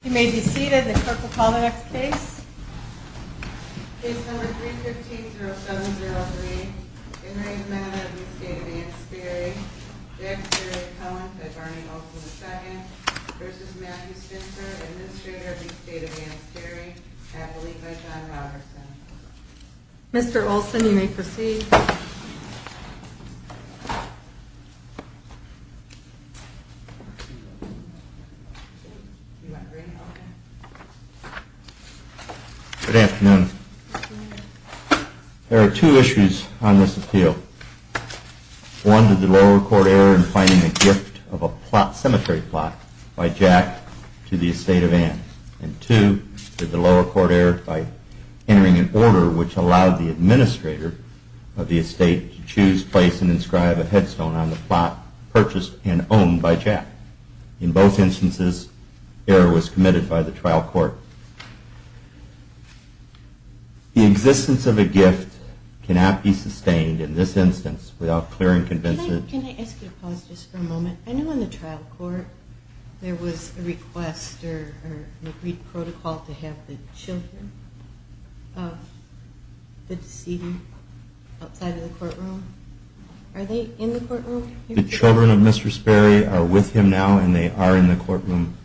You may be seated. The clerk will call the next case. Case number 315-0703. In re the Matter of the Estate of Ann Sperry, Jack Sperry Cohen, fed Barney Olsen II, versus Matthew Spencer, administrator of the Estate of Ann Sperry, happily by John Robertson. Mr. Olsen, you may proceed. Good afternoon. There are two issues on this appeal. One, did the lower court err in finding the gift of a cemetery plot by Jack to the Estate of Ann? And two, did the lower court err by entering an order which allowed the administrator of the Estate to choose, place, and inscribe a headstone on the plot purchased and owned by Jack? In both instances, error was committed by the trial court. The existence of a gift cannot be sustained in this instance without clear and convincing... Can I ask you to pause just for a moment? I know in the trial court there was a request or an agreed protocol to have the children of the deceased outside of the courtroom. Are they in the courtroom? The children of Mr. Sperry are with him now and they are in the courtroom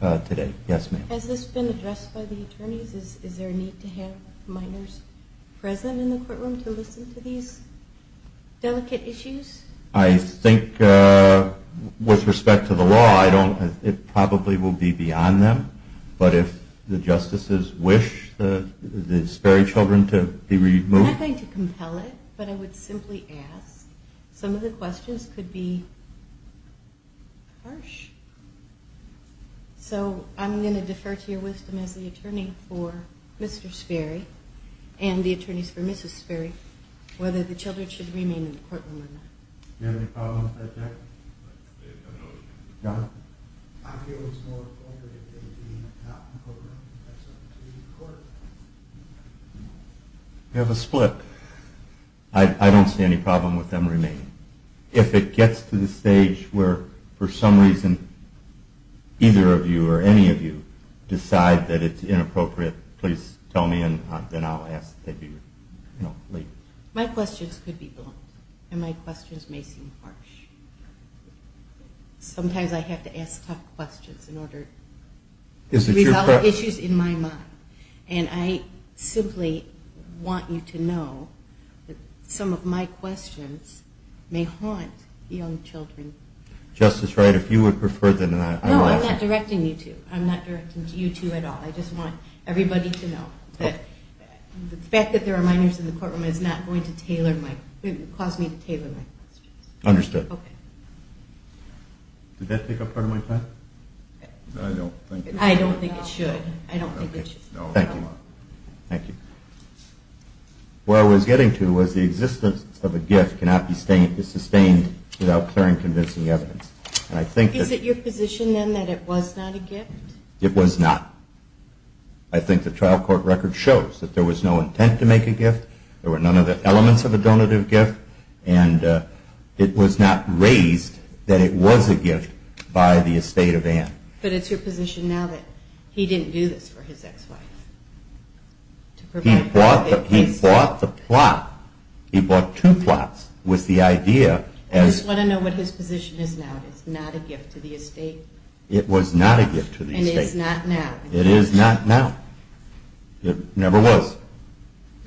today. Yes, ma'am. Has this been addressed by the attorneys? Is there a need to have minors present in the courtroom to listen to these delicate issues? I think with respect to the law, it probably will be beyond them. But if the justices wish the Sperry children to be removed... I'm not going to compel it, but I would simply ask. Some of the questions could be harsh. So I'm going to defer to your wisdom as the attorney for Mr. Sperry and the attorneys for Mrs. Sperry whether the children should remain in the courtroom or not. Do you have any problems with that, Jack? No. Go ahead. I feel it's more appropriate that they be not in the courtroom. We have a split. I don't see any problem with them remaining. If it gets to the stage where for some reason either of you or any of you decide that it's inappropriate, please tell me and then I'll ask. My questions could be blunt and my questions may seem harsh. Sometimes I have to ask tough questions in order to resolve issues in my mind. And I simply want you to know that some of my questions may haunt young children. Justice Wright, if you would prefer that I... No, I'm not directing you to. I'm not directing you to at all. I just want everybody to know that the fact that there are minors in the courtroom is not going to cause me to tailor my questions. Understood. Okay. Did that take up part of my time? I don't think it should. I don't think it should. Thank you. Thank you. What I was getting to was the existence of a gift cannot be sustained without clearing convincing evidence. And I think that... It was not. I think the trial court record shows that there was no intent to make a gift. There were none of the elements of a donative gift. And it was not raised that it was a gift by the estate of Ann. But it's your position now that he didn't do this for his ex-wife. He bought the plot. He bought two plots with the idea as... I just want to know what his position is now. It's not a gift to the estate? It was not a gift to the estate. And it's not now? It is not now. It never was.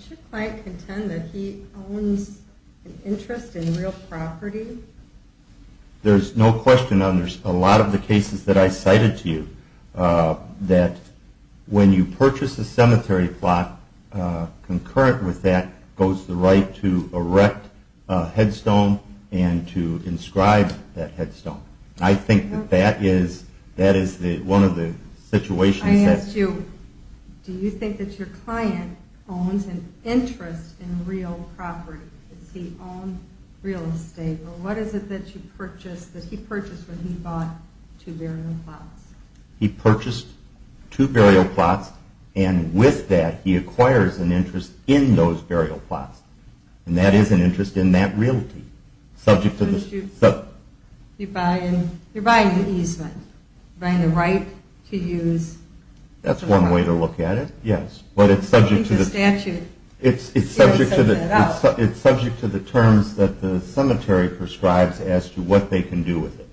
Should the client contend that he owns an interest in real property? There's no question on this. A lot of the cases that I cited to you, that when you purchase a cemetery plot, concurrent with that goes the right to erect a headstone and to inscribe that headstone. I think that that is one of the situations that... Do you think that your client owns an interest in real property? Does he own real estate? Or what is it that he purchased when he bought two burial plots? He purchased two burial plots and with that he acquires an interest in those burial plots. And that is an interest in that realty. You're buying the easement. You're buying the right to use... That's one way to look at it, yes. But it's subject to the statute. It's subject to the terms that the cemetery prescribes as to what they can do with it.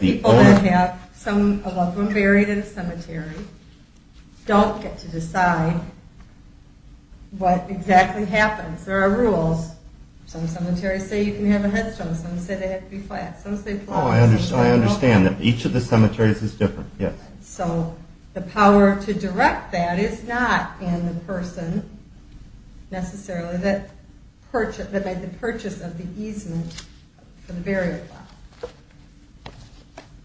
People who have a loved one buried in a cemetery don't get to decide what exactly happens. There are rules. Some cemeteries say you can have a headstone. Some say they have to be flat. Oh, I understand. Each of the cemeteries is different, yes. So the power to direct that is not in the person necessarily that made the purchase of the easement for the burial plot.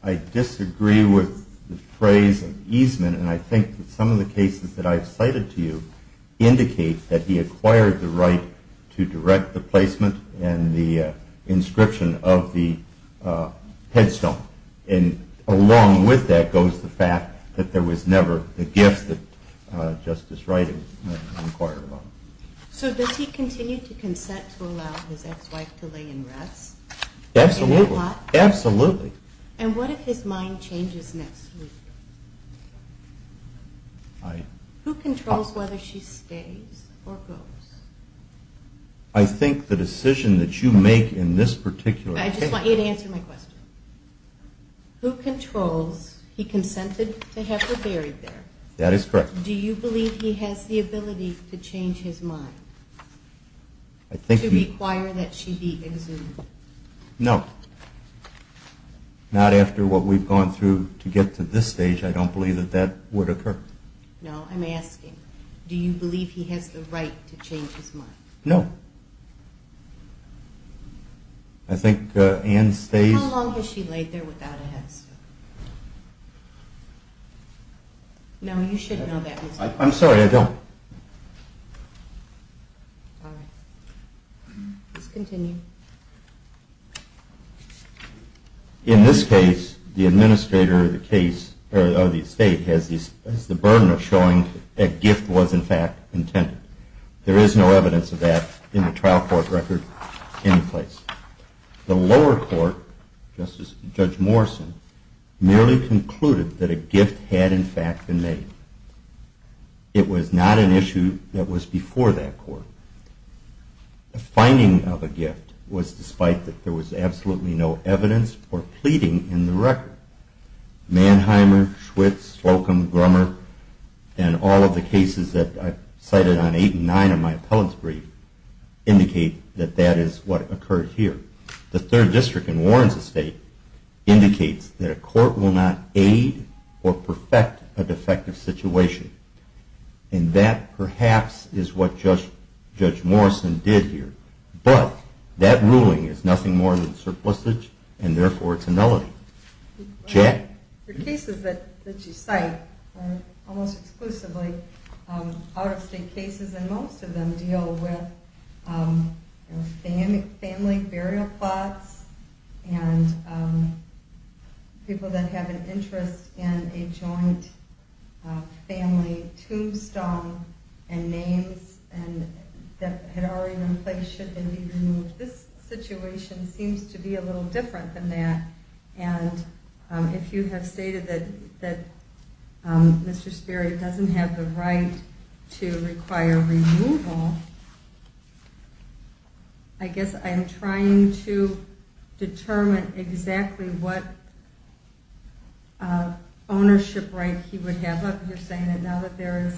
I disagree with the phrase of easement and I think that some of the cases that I've cited to you indicate that he acquired the right to direct the placement and the inscription of the headstone. And along with that goes the fact that there was never the gift that Justice Wright acquired. So does he continue to consent to allow his ex-wife to lay in rest? Absolutely, absolutely. And what if his mind changes next week? Who controls whether she stays or goes? I think the decision that you make in this particular case... I just want you to answer my question. Who controls, he consented to have her buried there. That is correct. Do you believe he has the ability to change his mind? I think... To require that she be exhumed? No. Not after what we've gone through to get to this stage, I don't believe that that would occur. No, I'm asking, do you believe he has the right to change his mind? No. I think Ann stays... How long has she laid there without a headstone? No, you should know that. I'm sorry, I don't... Alright. Please continue. In this case, the administrator of the estate has the burden of showing that a gift was in fact intended. There is no evidence of that in the trial court record in place. The lower court, Judge Morrison, merely concluded that a gift had in fact been made. It was not an issue that was before that court. The finding of a gift was despite that there was absolutely no evidence or pleading in the record. Manheimer, Schwitz, Slocum, Grummer, and all of the cases that I've cited on 8 and 9 of my appellate's brief indicate that that is what occurred here. The third district in Warren's estate indicates that a court will not aid or perfect a defective situation. And that perhaps is what Judge Morrison did here. But that ruling is nothing more than surplusage and therefore it's a nullity. The cases that you cite are almost exclusively out-of-state cases. And most of them deal with family burial plots and people that have an interest in a joint family tombstone and names that had already been placed should they be removed. But this situation seems to be a little different than that. And if you have stated that Mr. Sperry doesn't have the right to require removal, I guess I'm trying to determine exactly what ownership right he would have. You're saying that now that there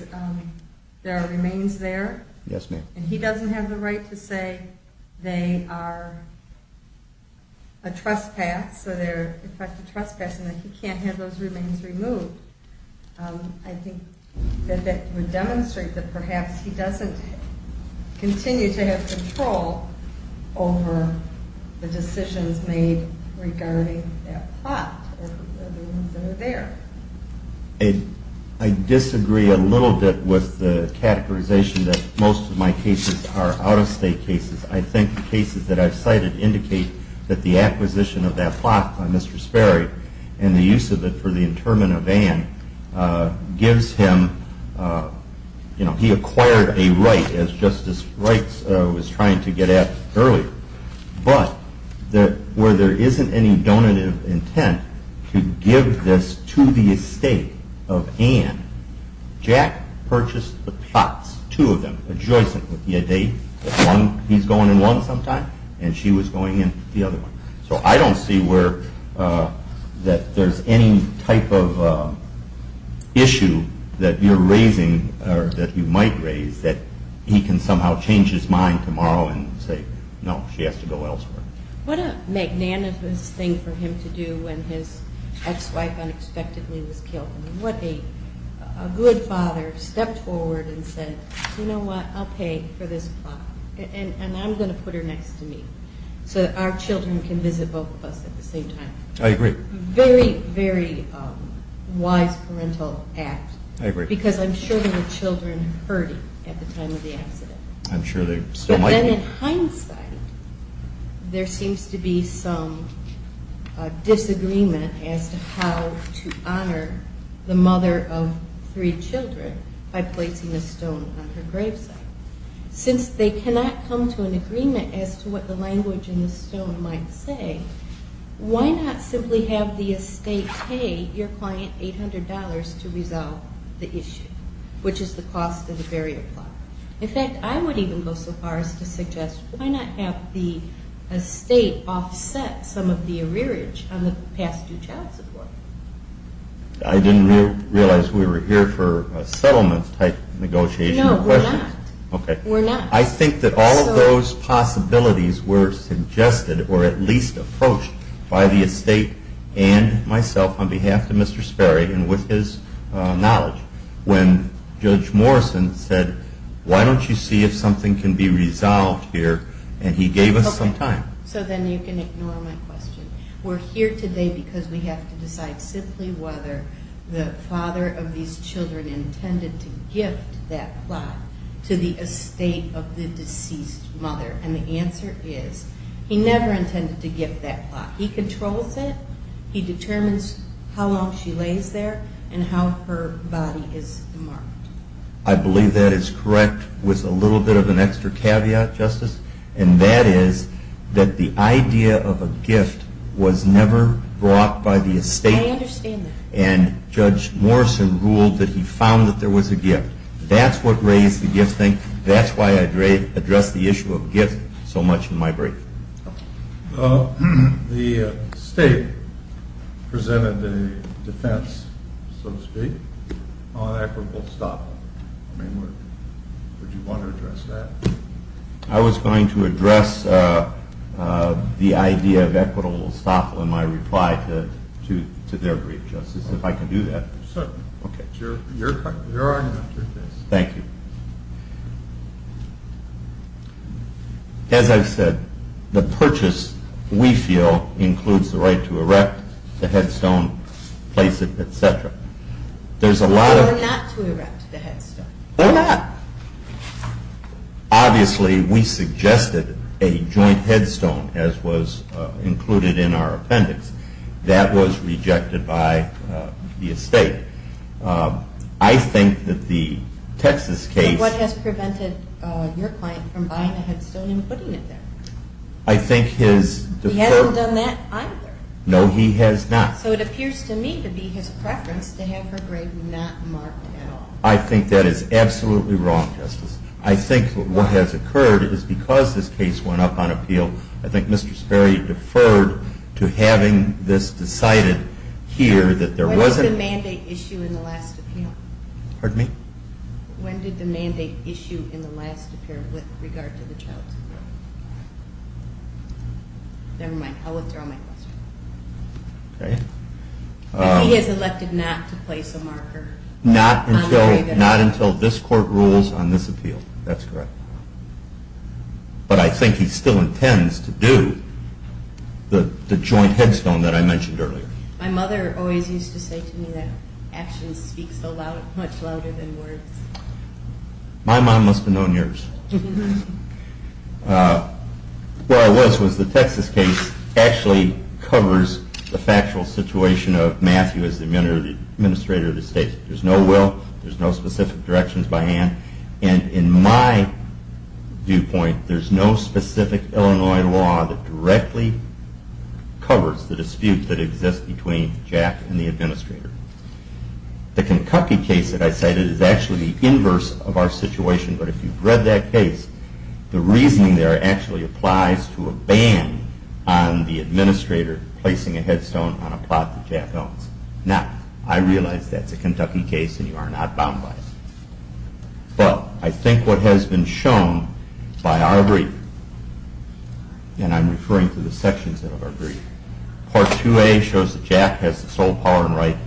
are remains there? Yes, ma'am. And he doesn't have the right to say they are a trespass and that he can't have those remains removed. I think that would demonstrate that perhaps he doesn't continue to have control over the decisions made regarding that plot or the ones that are there. I disagree a little bit with the categorization that most of my cases are out-of-state cases. I think the cases that I've cited indicate that the acquisition of that plot by Mr. Sperry and the use of it for the interment of Anne gives him, you know, he acquired a right as Justice Wright was trying to get at earlier. But where there isn't any donative intent to give this to the estate of Anne, Jack purchased the plots, two of them, adjoicent. He's going in one sometime and she was going in the other one. So I don't see where that there's any type of issue that you're raising or that you might raise that he can somehow change his mind tomorrow and say, no, she has to go elsewhere. What a magnanimous thing for him to do when his ex-wife unexpectedly was killed. What a good father stepped forward and said, you know what, I'll pay for this plot and I'm going to put her next to me so that our children can visit both of us at the same time. I agree. Very, very wise parental act. I agree. Because I'm sure there were children hurting at the time of the accident. I'm sure there still might be. But then in hindsight, there seems to be some disagreement as to how to honor the mother of three children by placing a stone on her grave site. Since they cannot come to an agreement as to what the language in the stone might say, why not simply have the estate pay your client $800 to resolve the issue, which is the cost of the barrier plot? In fact, I would even go so far as to suggest, why not have the estate offset some of the arrearage on the past due child support? I didn't realize we were here for a settlement type negotiation. No, we're not. Okay. We're not. I think that all of those possibilities were suggested, or at least approached, by the estate and myself on behalf of Mr. Sperry and with his knowledge when Judge Morrison said, why don't you see if something can be resolved here? And he gave us some time. So then you can ignore my question. We're here today because we have to decide simply whether the father of these children intended to gift that plot to the estate of the deceased mother. And the answer is he never intended to gift that plot. He controls it. He determines how long she lays there and how her body is marked. I believe that is correct with a little bit of an extra caveat, Justice, and that is that the idea of a gift was never brought by the estate. I understand that. And Judge Morrison ruled that he found that there was a gift. That's what raised the gift thing. That's why I addressed the issue of gifts so much in my brief. The estate presented a defense, so to speak, on equitable estoppel. I mean, would you want to address that? I was going to address the idea of equitable estoppel in my reply to their brief, Justice, if I can do that. Certainly. Okay. Your argument. Thank you. As I've said, the purchase, we feel, includes the right to erect the headstone, place it, et cetera. Or not to erect the headstone. Or not. Obviously, we suggested a joint headstone, as was included in our appendix. That was rejected by the estate. I think that the Texas case – But what has prevented your client from buying a headstone and putting it there? I think his – He hasn't done that either. No, he has not. So it appears to me to be his preference to have her grave not marked at all. I think that is absolutely wrong, Justice. I think what has occurred is because this case went up on appeal, I think Mr. Sperry deferred to having this decided here that there wasn't – When did the mandate issue in the last appeal? Pardon me? When did the mandate issue in the last appeal with regard to the child's appeal? Never mind. I will throw my question. Okay. He has elected not to place a marker. Not until this court rules on this appeal. That's correct. But I think he still intends to do the joint headstone that I mentioned earlier. My mother always used to say to me that actions speak much louder than words. My mom must have known yours. What I was was the Texas case actually covers the factual situation of Matthew as the Administrator of the State. There's no will. There's no specific directions by hand. And in my viewpoint, there's no specific Illinois law that directly covers the dispute that exists between Jack and the Administrator. The Kentucky case that I cited is actually the inverse of our situation, but if you've read that case, the reasoning there actually applies to a ban on the Administrator placing a headstone on a plot that Jack owns. Now, I realize that's a Kentucky case and you are not bound by it. But I think what has been shown by our brief, and I'm referring to the sections of our brief, Part 2A shows that Jack has the sole power and right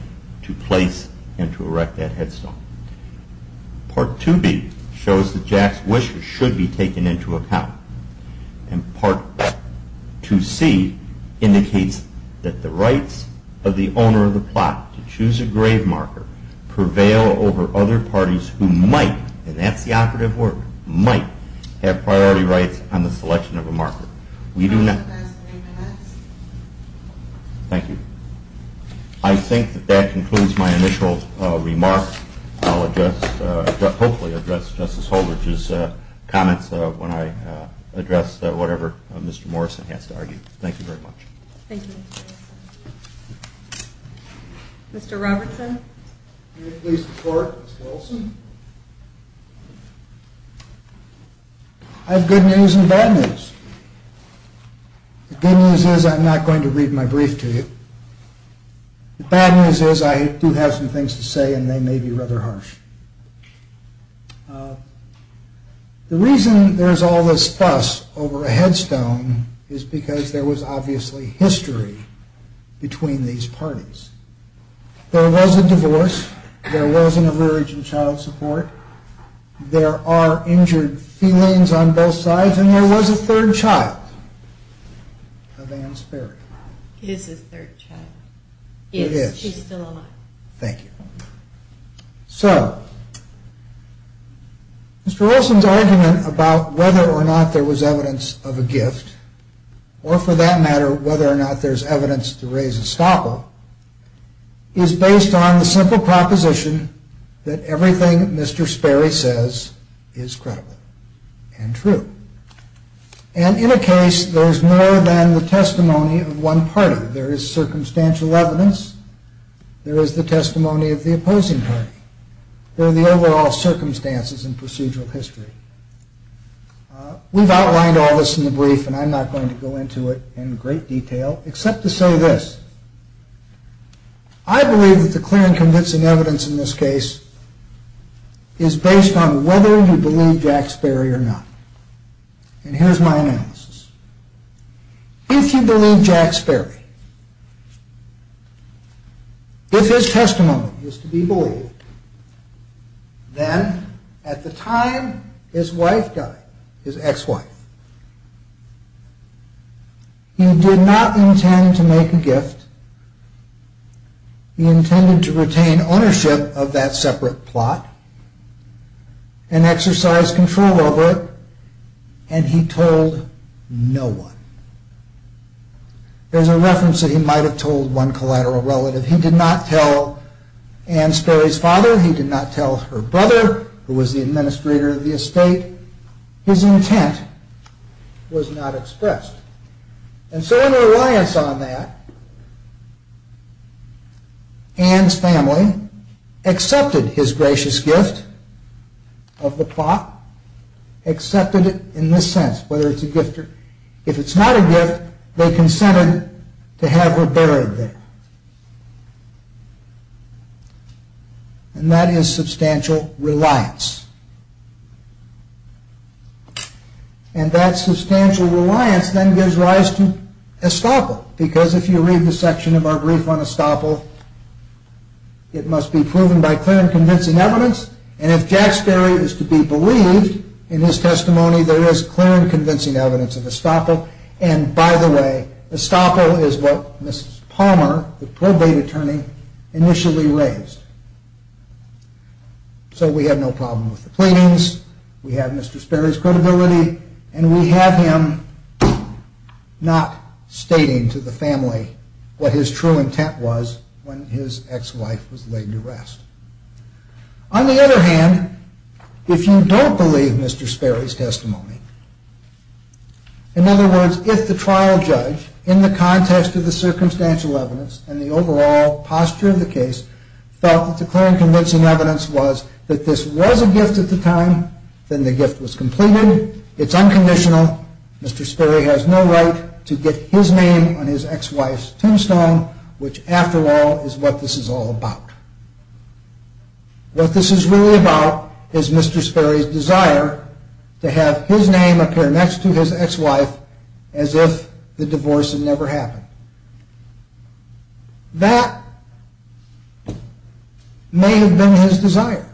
to place and to erect that headstone. Part 2B shows that Jack's wishes should be taken into account. And Part 2C indicates that the rights of the owner of the plot to choose a grave marker prevail over other parties who might, and that's the operative word, might have priority rights on the selection of a marker. We do not. Thank you. I think that that concludes my initial remarks. I'll address, hopefully address Justice Holder's comments when I address whatever Mr. Morrison has to argue. Thank you very much. Thank you. Mr. Robertson? I have good news and bad news. The good news is I'm not going to read my brief to you. The bad news is I do have some things to say and they may be rather harsh. The reason there's all this fuss over a headstone is because there was obviously history between these parties. There was a divorce, there was an average in child support, there are injured felines on both sides, and there was a third child of Ann's burial. It is his third child. It is. She's still alive. Thank you. So, Mr. Olson's argument about whether or not there was evidence of a gift, or for that matter whether or not there's evidence to raise a stopper, is based on the simple proposition that everything Mr. Sperry says is credible and true. And in a case, there's more than the testimony of one party. There is circumstantial evidence. There is the testimony of the opposing party. There are the overall circumstances and procedural history. We've outlined all this in the brief and I'm not going to go into it in great detail, except to say this. I believe that the clear and convincing evidence in this case is based on whether you believe Jack Sperry or not. And here's my analysis. If you believe Jack Sperry, if his testimony is to be believed, then at the time his wife died, his ex-wife, he did not intend to make a gift. He intended to retain ownership of that separate plot and exercise control over it. And he told no one. There's a reference that he might have told one collateral relative. He did not tell Ann Sperry's father. His intent was not expressed. And so in reliance on that, Ann's family accepted his gracious gift of the plot. Accepted it in this sense, whether it's a gift or not. If it's not a gift, they consented to have her buried there. And that is substantial reliance. And that substantial reliance then gives rise to estoppel. Because if you read the section of our brief on estoppel, it must be proven by clear and convincing evidence. And if Jack Sperry is to be believed in his testimony, there is clear and convincing evidence of estoppel. And by the way, estoppel is what Mrs. Palmer, the probate attorney, initially raised. So we have no problem with the pleadings. We have Mr. Sperry's credibility. And we have him not stating to the family what his true intent was when his ex-wife was laid to rest. On the other hand, if you don't believe Mr. Sperry's testimony, in other words, if the trial judge, in the context of the circumstantial evidence and the overall posture of the case, felt that the clear and convincing evidence was that this was a gift at the time, then the gift was completed. It's unconditional. Mr. Sperry has no right to get his name on his ex-wife's tombstone, which, after all, is what this is all about. What this is really about is Mr. Sperry's desire to have his name appear next to his ex-wife as if the divorce had never happened. That may have been his desire.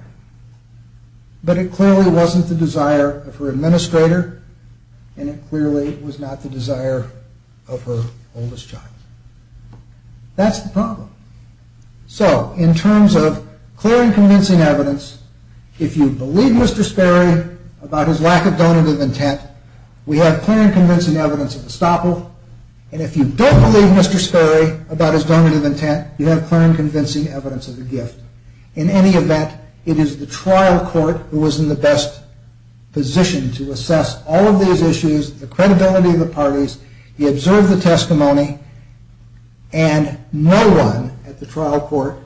But it clearly wasn't the desire of her administrator, and it clearly was not the desire of her oldest child. That's the problem. So, in terms of clear and convincing evidence, if you believe Mr. Sperry about his lack of donative intent, we have clear and convincing evidence of estoppel. And if you don't believe Mr. Sperry about his donative intent, you have clear and convincing evidence of the gift. In any event, it is the trial court who was in the best position to assess all of these issues, the credibility of the parties. He observed the testimony, and no one at the trial court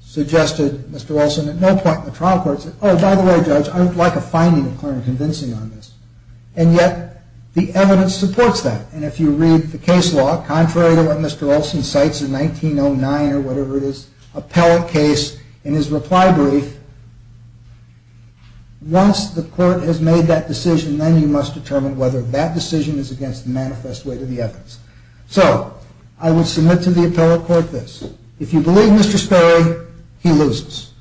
suggested, Mr. Olson, at no point in the trial court said, oh, by the way, Judge, I would like a finding of clear and convincing on this. And yet, the evidence supports that. And if you read the case law, contrary to what Mr. Olson cites in 1909 or whatever it is, the appellate case, in his reply brief, once the court has made that decision, then you must determine whether that decision is against the manifest weight of the evidence. So, I would submit to the appellate court this. If you believe Mr. Sperry, he loses.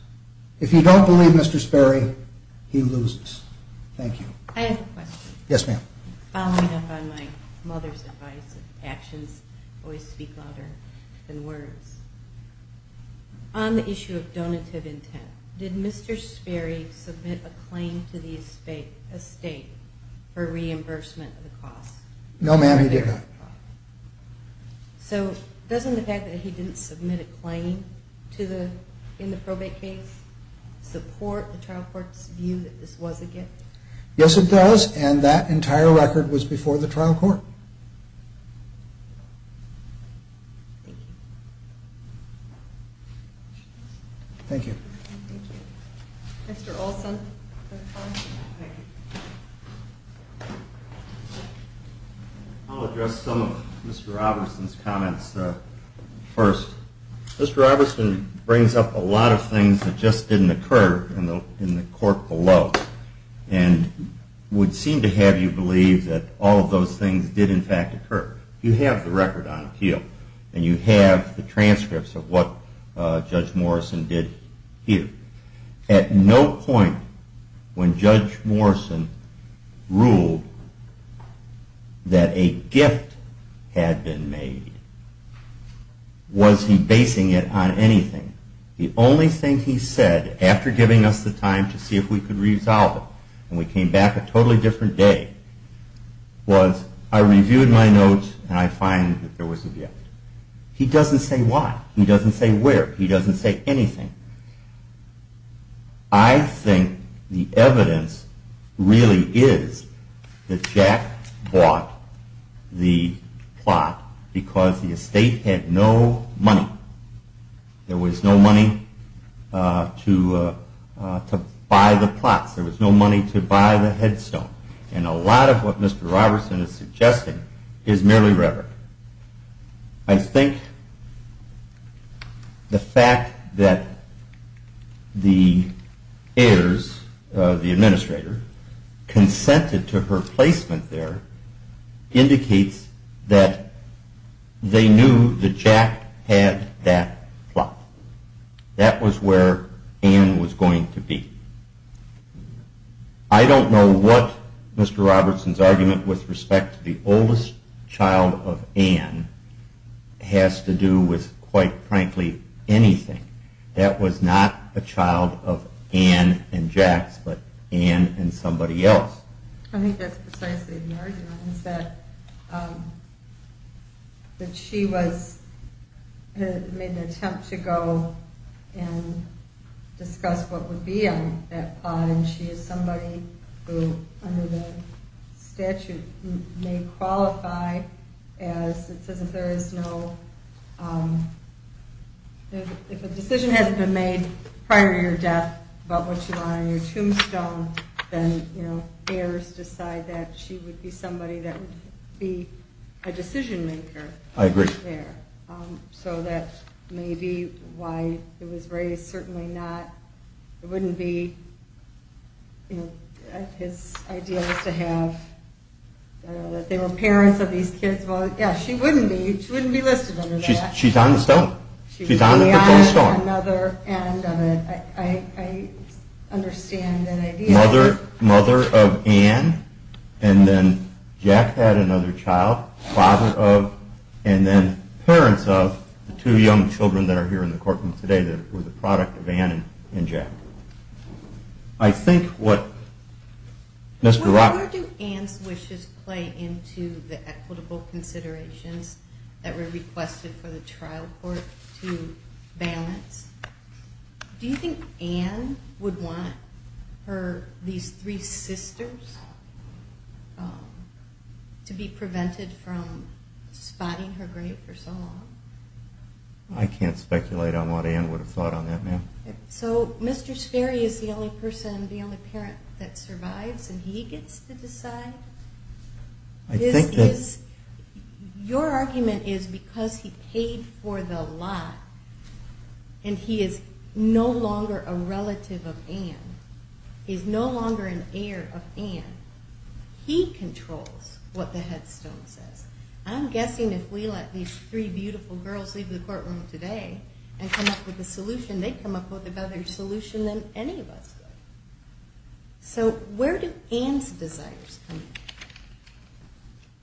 If you don't believe Mr. Sperry, he loses. Thank you. I have a question. Yes, ma'am. Following up on my mother's advice, actions always speak louder than words. On the issue of donative intent, did Mr. Sperry submit a claim to the estate for reimbursement of the cost? No, ma'am, he did not. So, doesn't the fact that he didn't submit a claim in the probate case support the trial court's view that this was a gift? Yes, it does, and that entire record was before the trial court. Thank you. Thank you. Thank you. Mr. Olson. I'll address some of Mr. Robertson's comments first. Mr. Robertson brings up a lot of things that just didn't occur in the court below and would seem to have you believe that all of those things did in fact occur. You have the record on appeal, and you have the transcripts of what Judge Morrison did here. At no point when Judge Morrison ruled that a gift had been made was he basing it on anything. The only thing he said after giving us the time to see if we could resolve it, and we came back a totally different day, was I reviewed my notes, and I find that there was a gift. He doesn't say why. He doesn't say where. He doesn't say anything. I think the evidence really is that Jack bought the plot because the estate had no money. There was no money to buy the plots. There was no money to buy the headstone. A lot of what Mr. Robertson is suggesting is merely rhetoric. I think the fact that the heirs, the administrator, consented to her placement there indicates that they knew that Jack had that plot. That was where Ann was going to be. I don't know what Mr. Robertson's argument with respect to the oldest child of Ann has to do with, quite frankly, anything. That was not a child of Ann and Jack's, but Ann and somebody else. I think that's precisely the argument, is that she made an attempt to go and discuss what would be in that plot, and she is somebody who, under the statute, may qualify as... It says if there is no... If a decision hasn't been made prior to your death about what you want on your tombstone, then heirs decide that she would be somebody that would be a decision-maker. I agree. That may be why it was raised. Certainly not... His idea was to have... They were parents of these kids. She wouldn't be listed under that. She's on the stone. She's beyond another end of it. I understand that idea. Mother of Ann, and then Jack had another child, father of, and then parents of the two young children that are here in the courtroom today that were the product of Ann and Jack. I think what... Where do Ann's wishes play into the equitable considerations that were requested for the trial court to balance? Do you think Ann would want these three sisters to be prevented from spotting her grave for so long? I can't speculate on that, ma'am. So Mr. Sperry is the only person, the only parent that survives and he gets to decide? I think that... Your argument is because he paid for the lot and he is no longer a relative of Ann, he's no longer an heir of Ann, he controls what the headstone says. I'm guessing if we let these three beautiful girls leave the courtroom today and come up with a solution, they'd come up with a better solution than any of us would. So where do Ann's desires come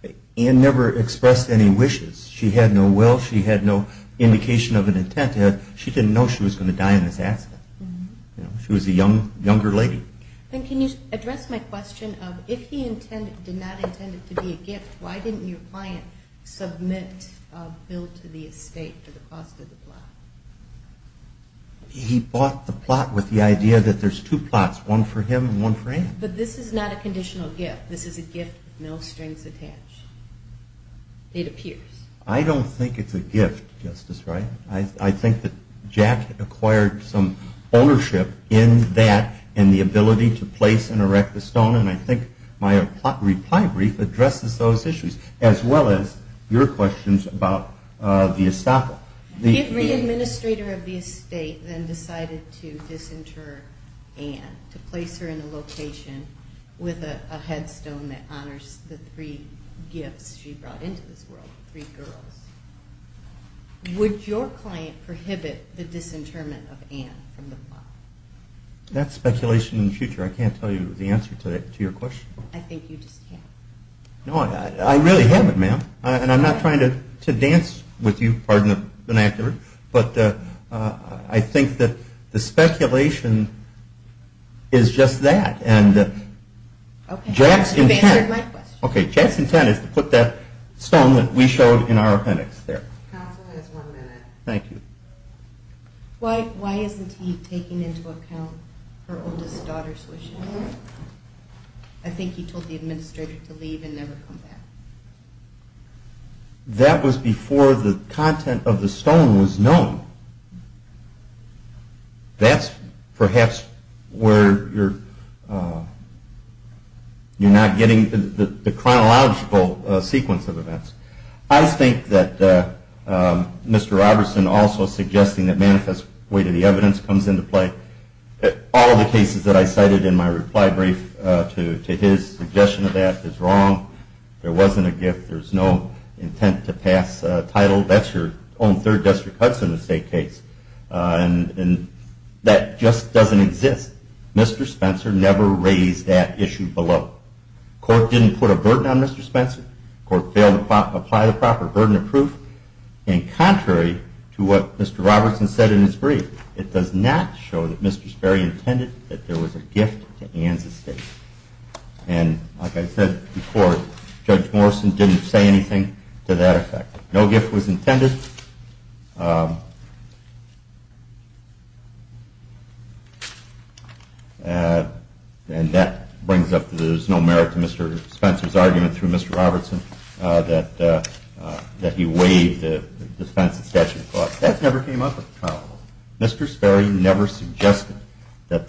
in? Ann never expressed any wishes. She had no will, she had no indication of an intent. She didn't know she was going to die in this accident. She was a younger lady. Then can you address my question of if he did not intend it to be a gift, why didn't your client submit a bill to the estate for the cost of the plot? He bought the plot with the idea that there's two plots, one for him and one for Ann. But this is not a conditional gift. This is a gift with no strings attached. It appears. I don't think it's a gift, Justice Wright. I think that Jack acquired some ownership in that and the ability to place and erect the stone and I think my reply brief addresses those issues about the estoppel. If the administrator of the estate then decided to disinter Ann, to place her in a location with a headstone that honors the three gifts she brought into this world, three girls, would your client prohibit the disinterment of Ann from the plot? That's speculation in the future. I can't tell you the answer to your question. I think you just can't. No, I really haven't, ma'am. And I'm not trying to dance with you, pardon the vernacular, but I think that the speculation is just that. And Jack's intent... You've answered my question. Okay, Jack's intent is to put that stone that we showed in our appendix there. Counsel has one minute. Thank you. Why isn't he taking into account her oldest daughter's wishes? I think he told the administrator to leave and never come back. That was before the content of the stone was known. That's perhaps where you're not getting the chronological sequence of events. I think that Mr. Robertson also suggesting that manifest weight of the evidence comes into play. All the cases that I cited in my reply brief to his suggestion of that is wrong. It wasn't a gift. There's no intent to pass title. That's your own third district Hudson estate case. And that just doesn't exist. Mr. Spencer never raised that issue below. Court didn't put a burden on Mr. Spencer. Court failed to apply the proper burden of proof. And contrary to what Mr. Robertson said in his brief, it does not show that Mr. Sperry intended that there was no gift. Mr. Robertson didn't say anything to that effect. No gift was intended. And that brings up that there's no merit to Mr. Spencer's argument through Mr. Robertson that he weighed the defense of statute of clause. That never came up at the time. Mr. Sperry never suggested that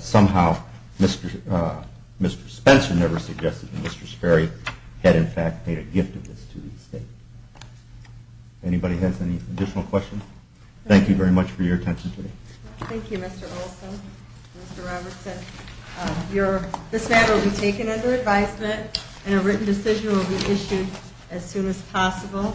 somehow Mr. Spencer never suggested that Mr. Sperry had in fact made a gift of this to the estate. Anybody has any additional questions? Thank you very much for your attention today. Thank you, Mr. Olson, Mr. Robertson. This matter will be taken under advisement and a written decision will be issued as soon as possible.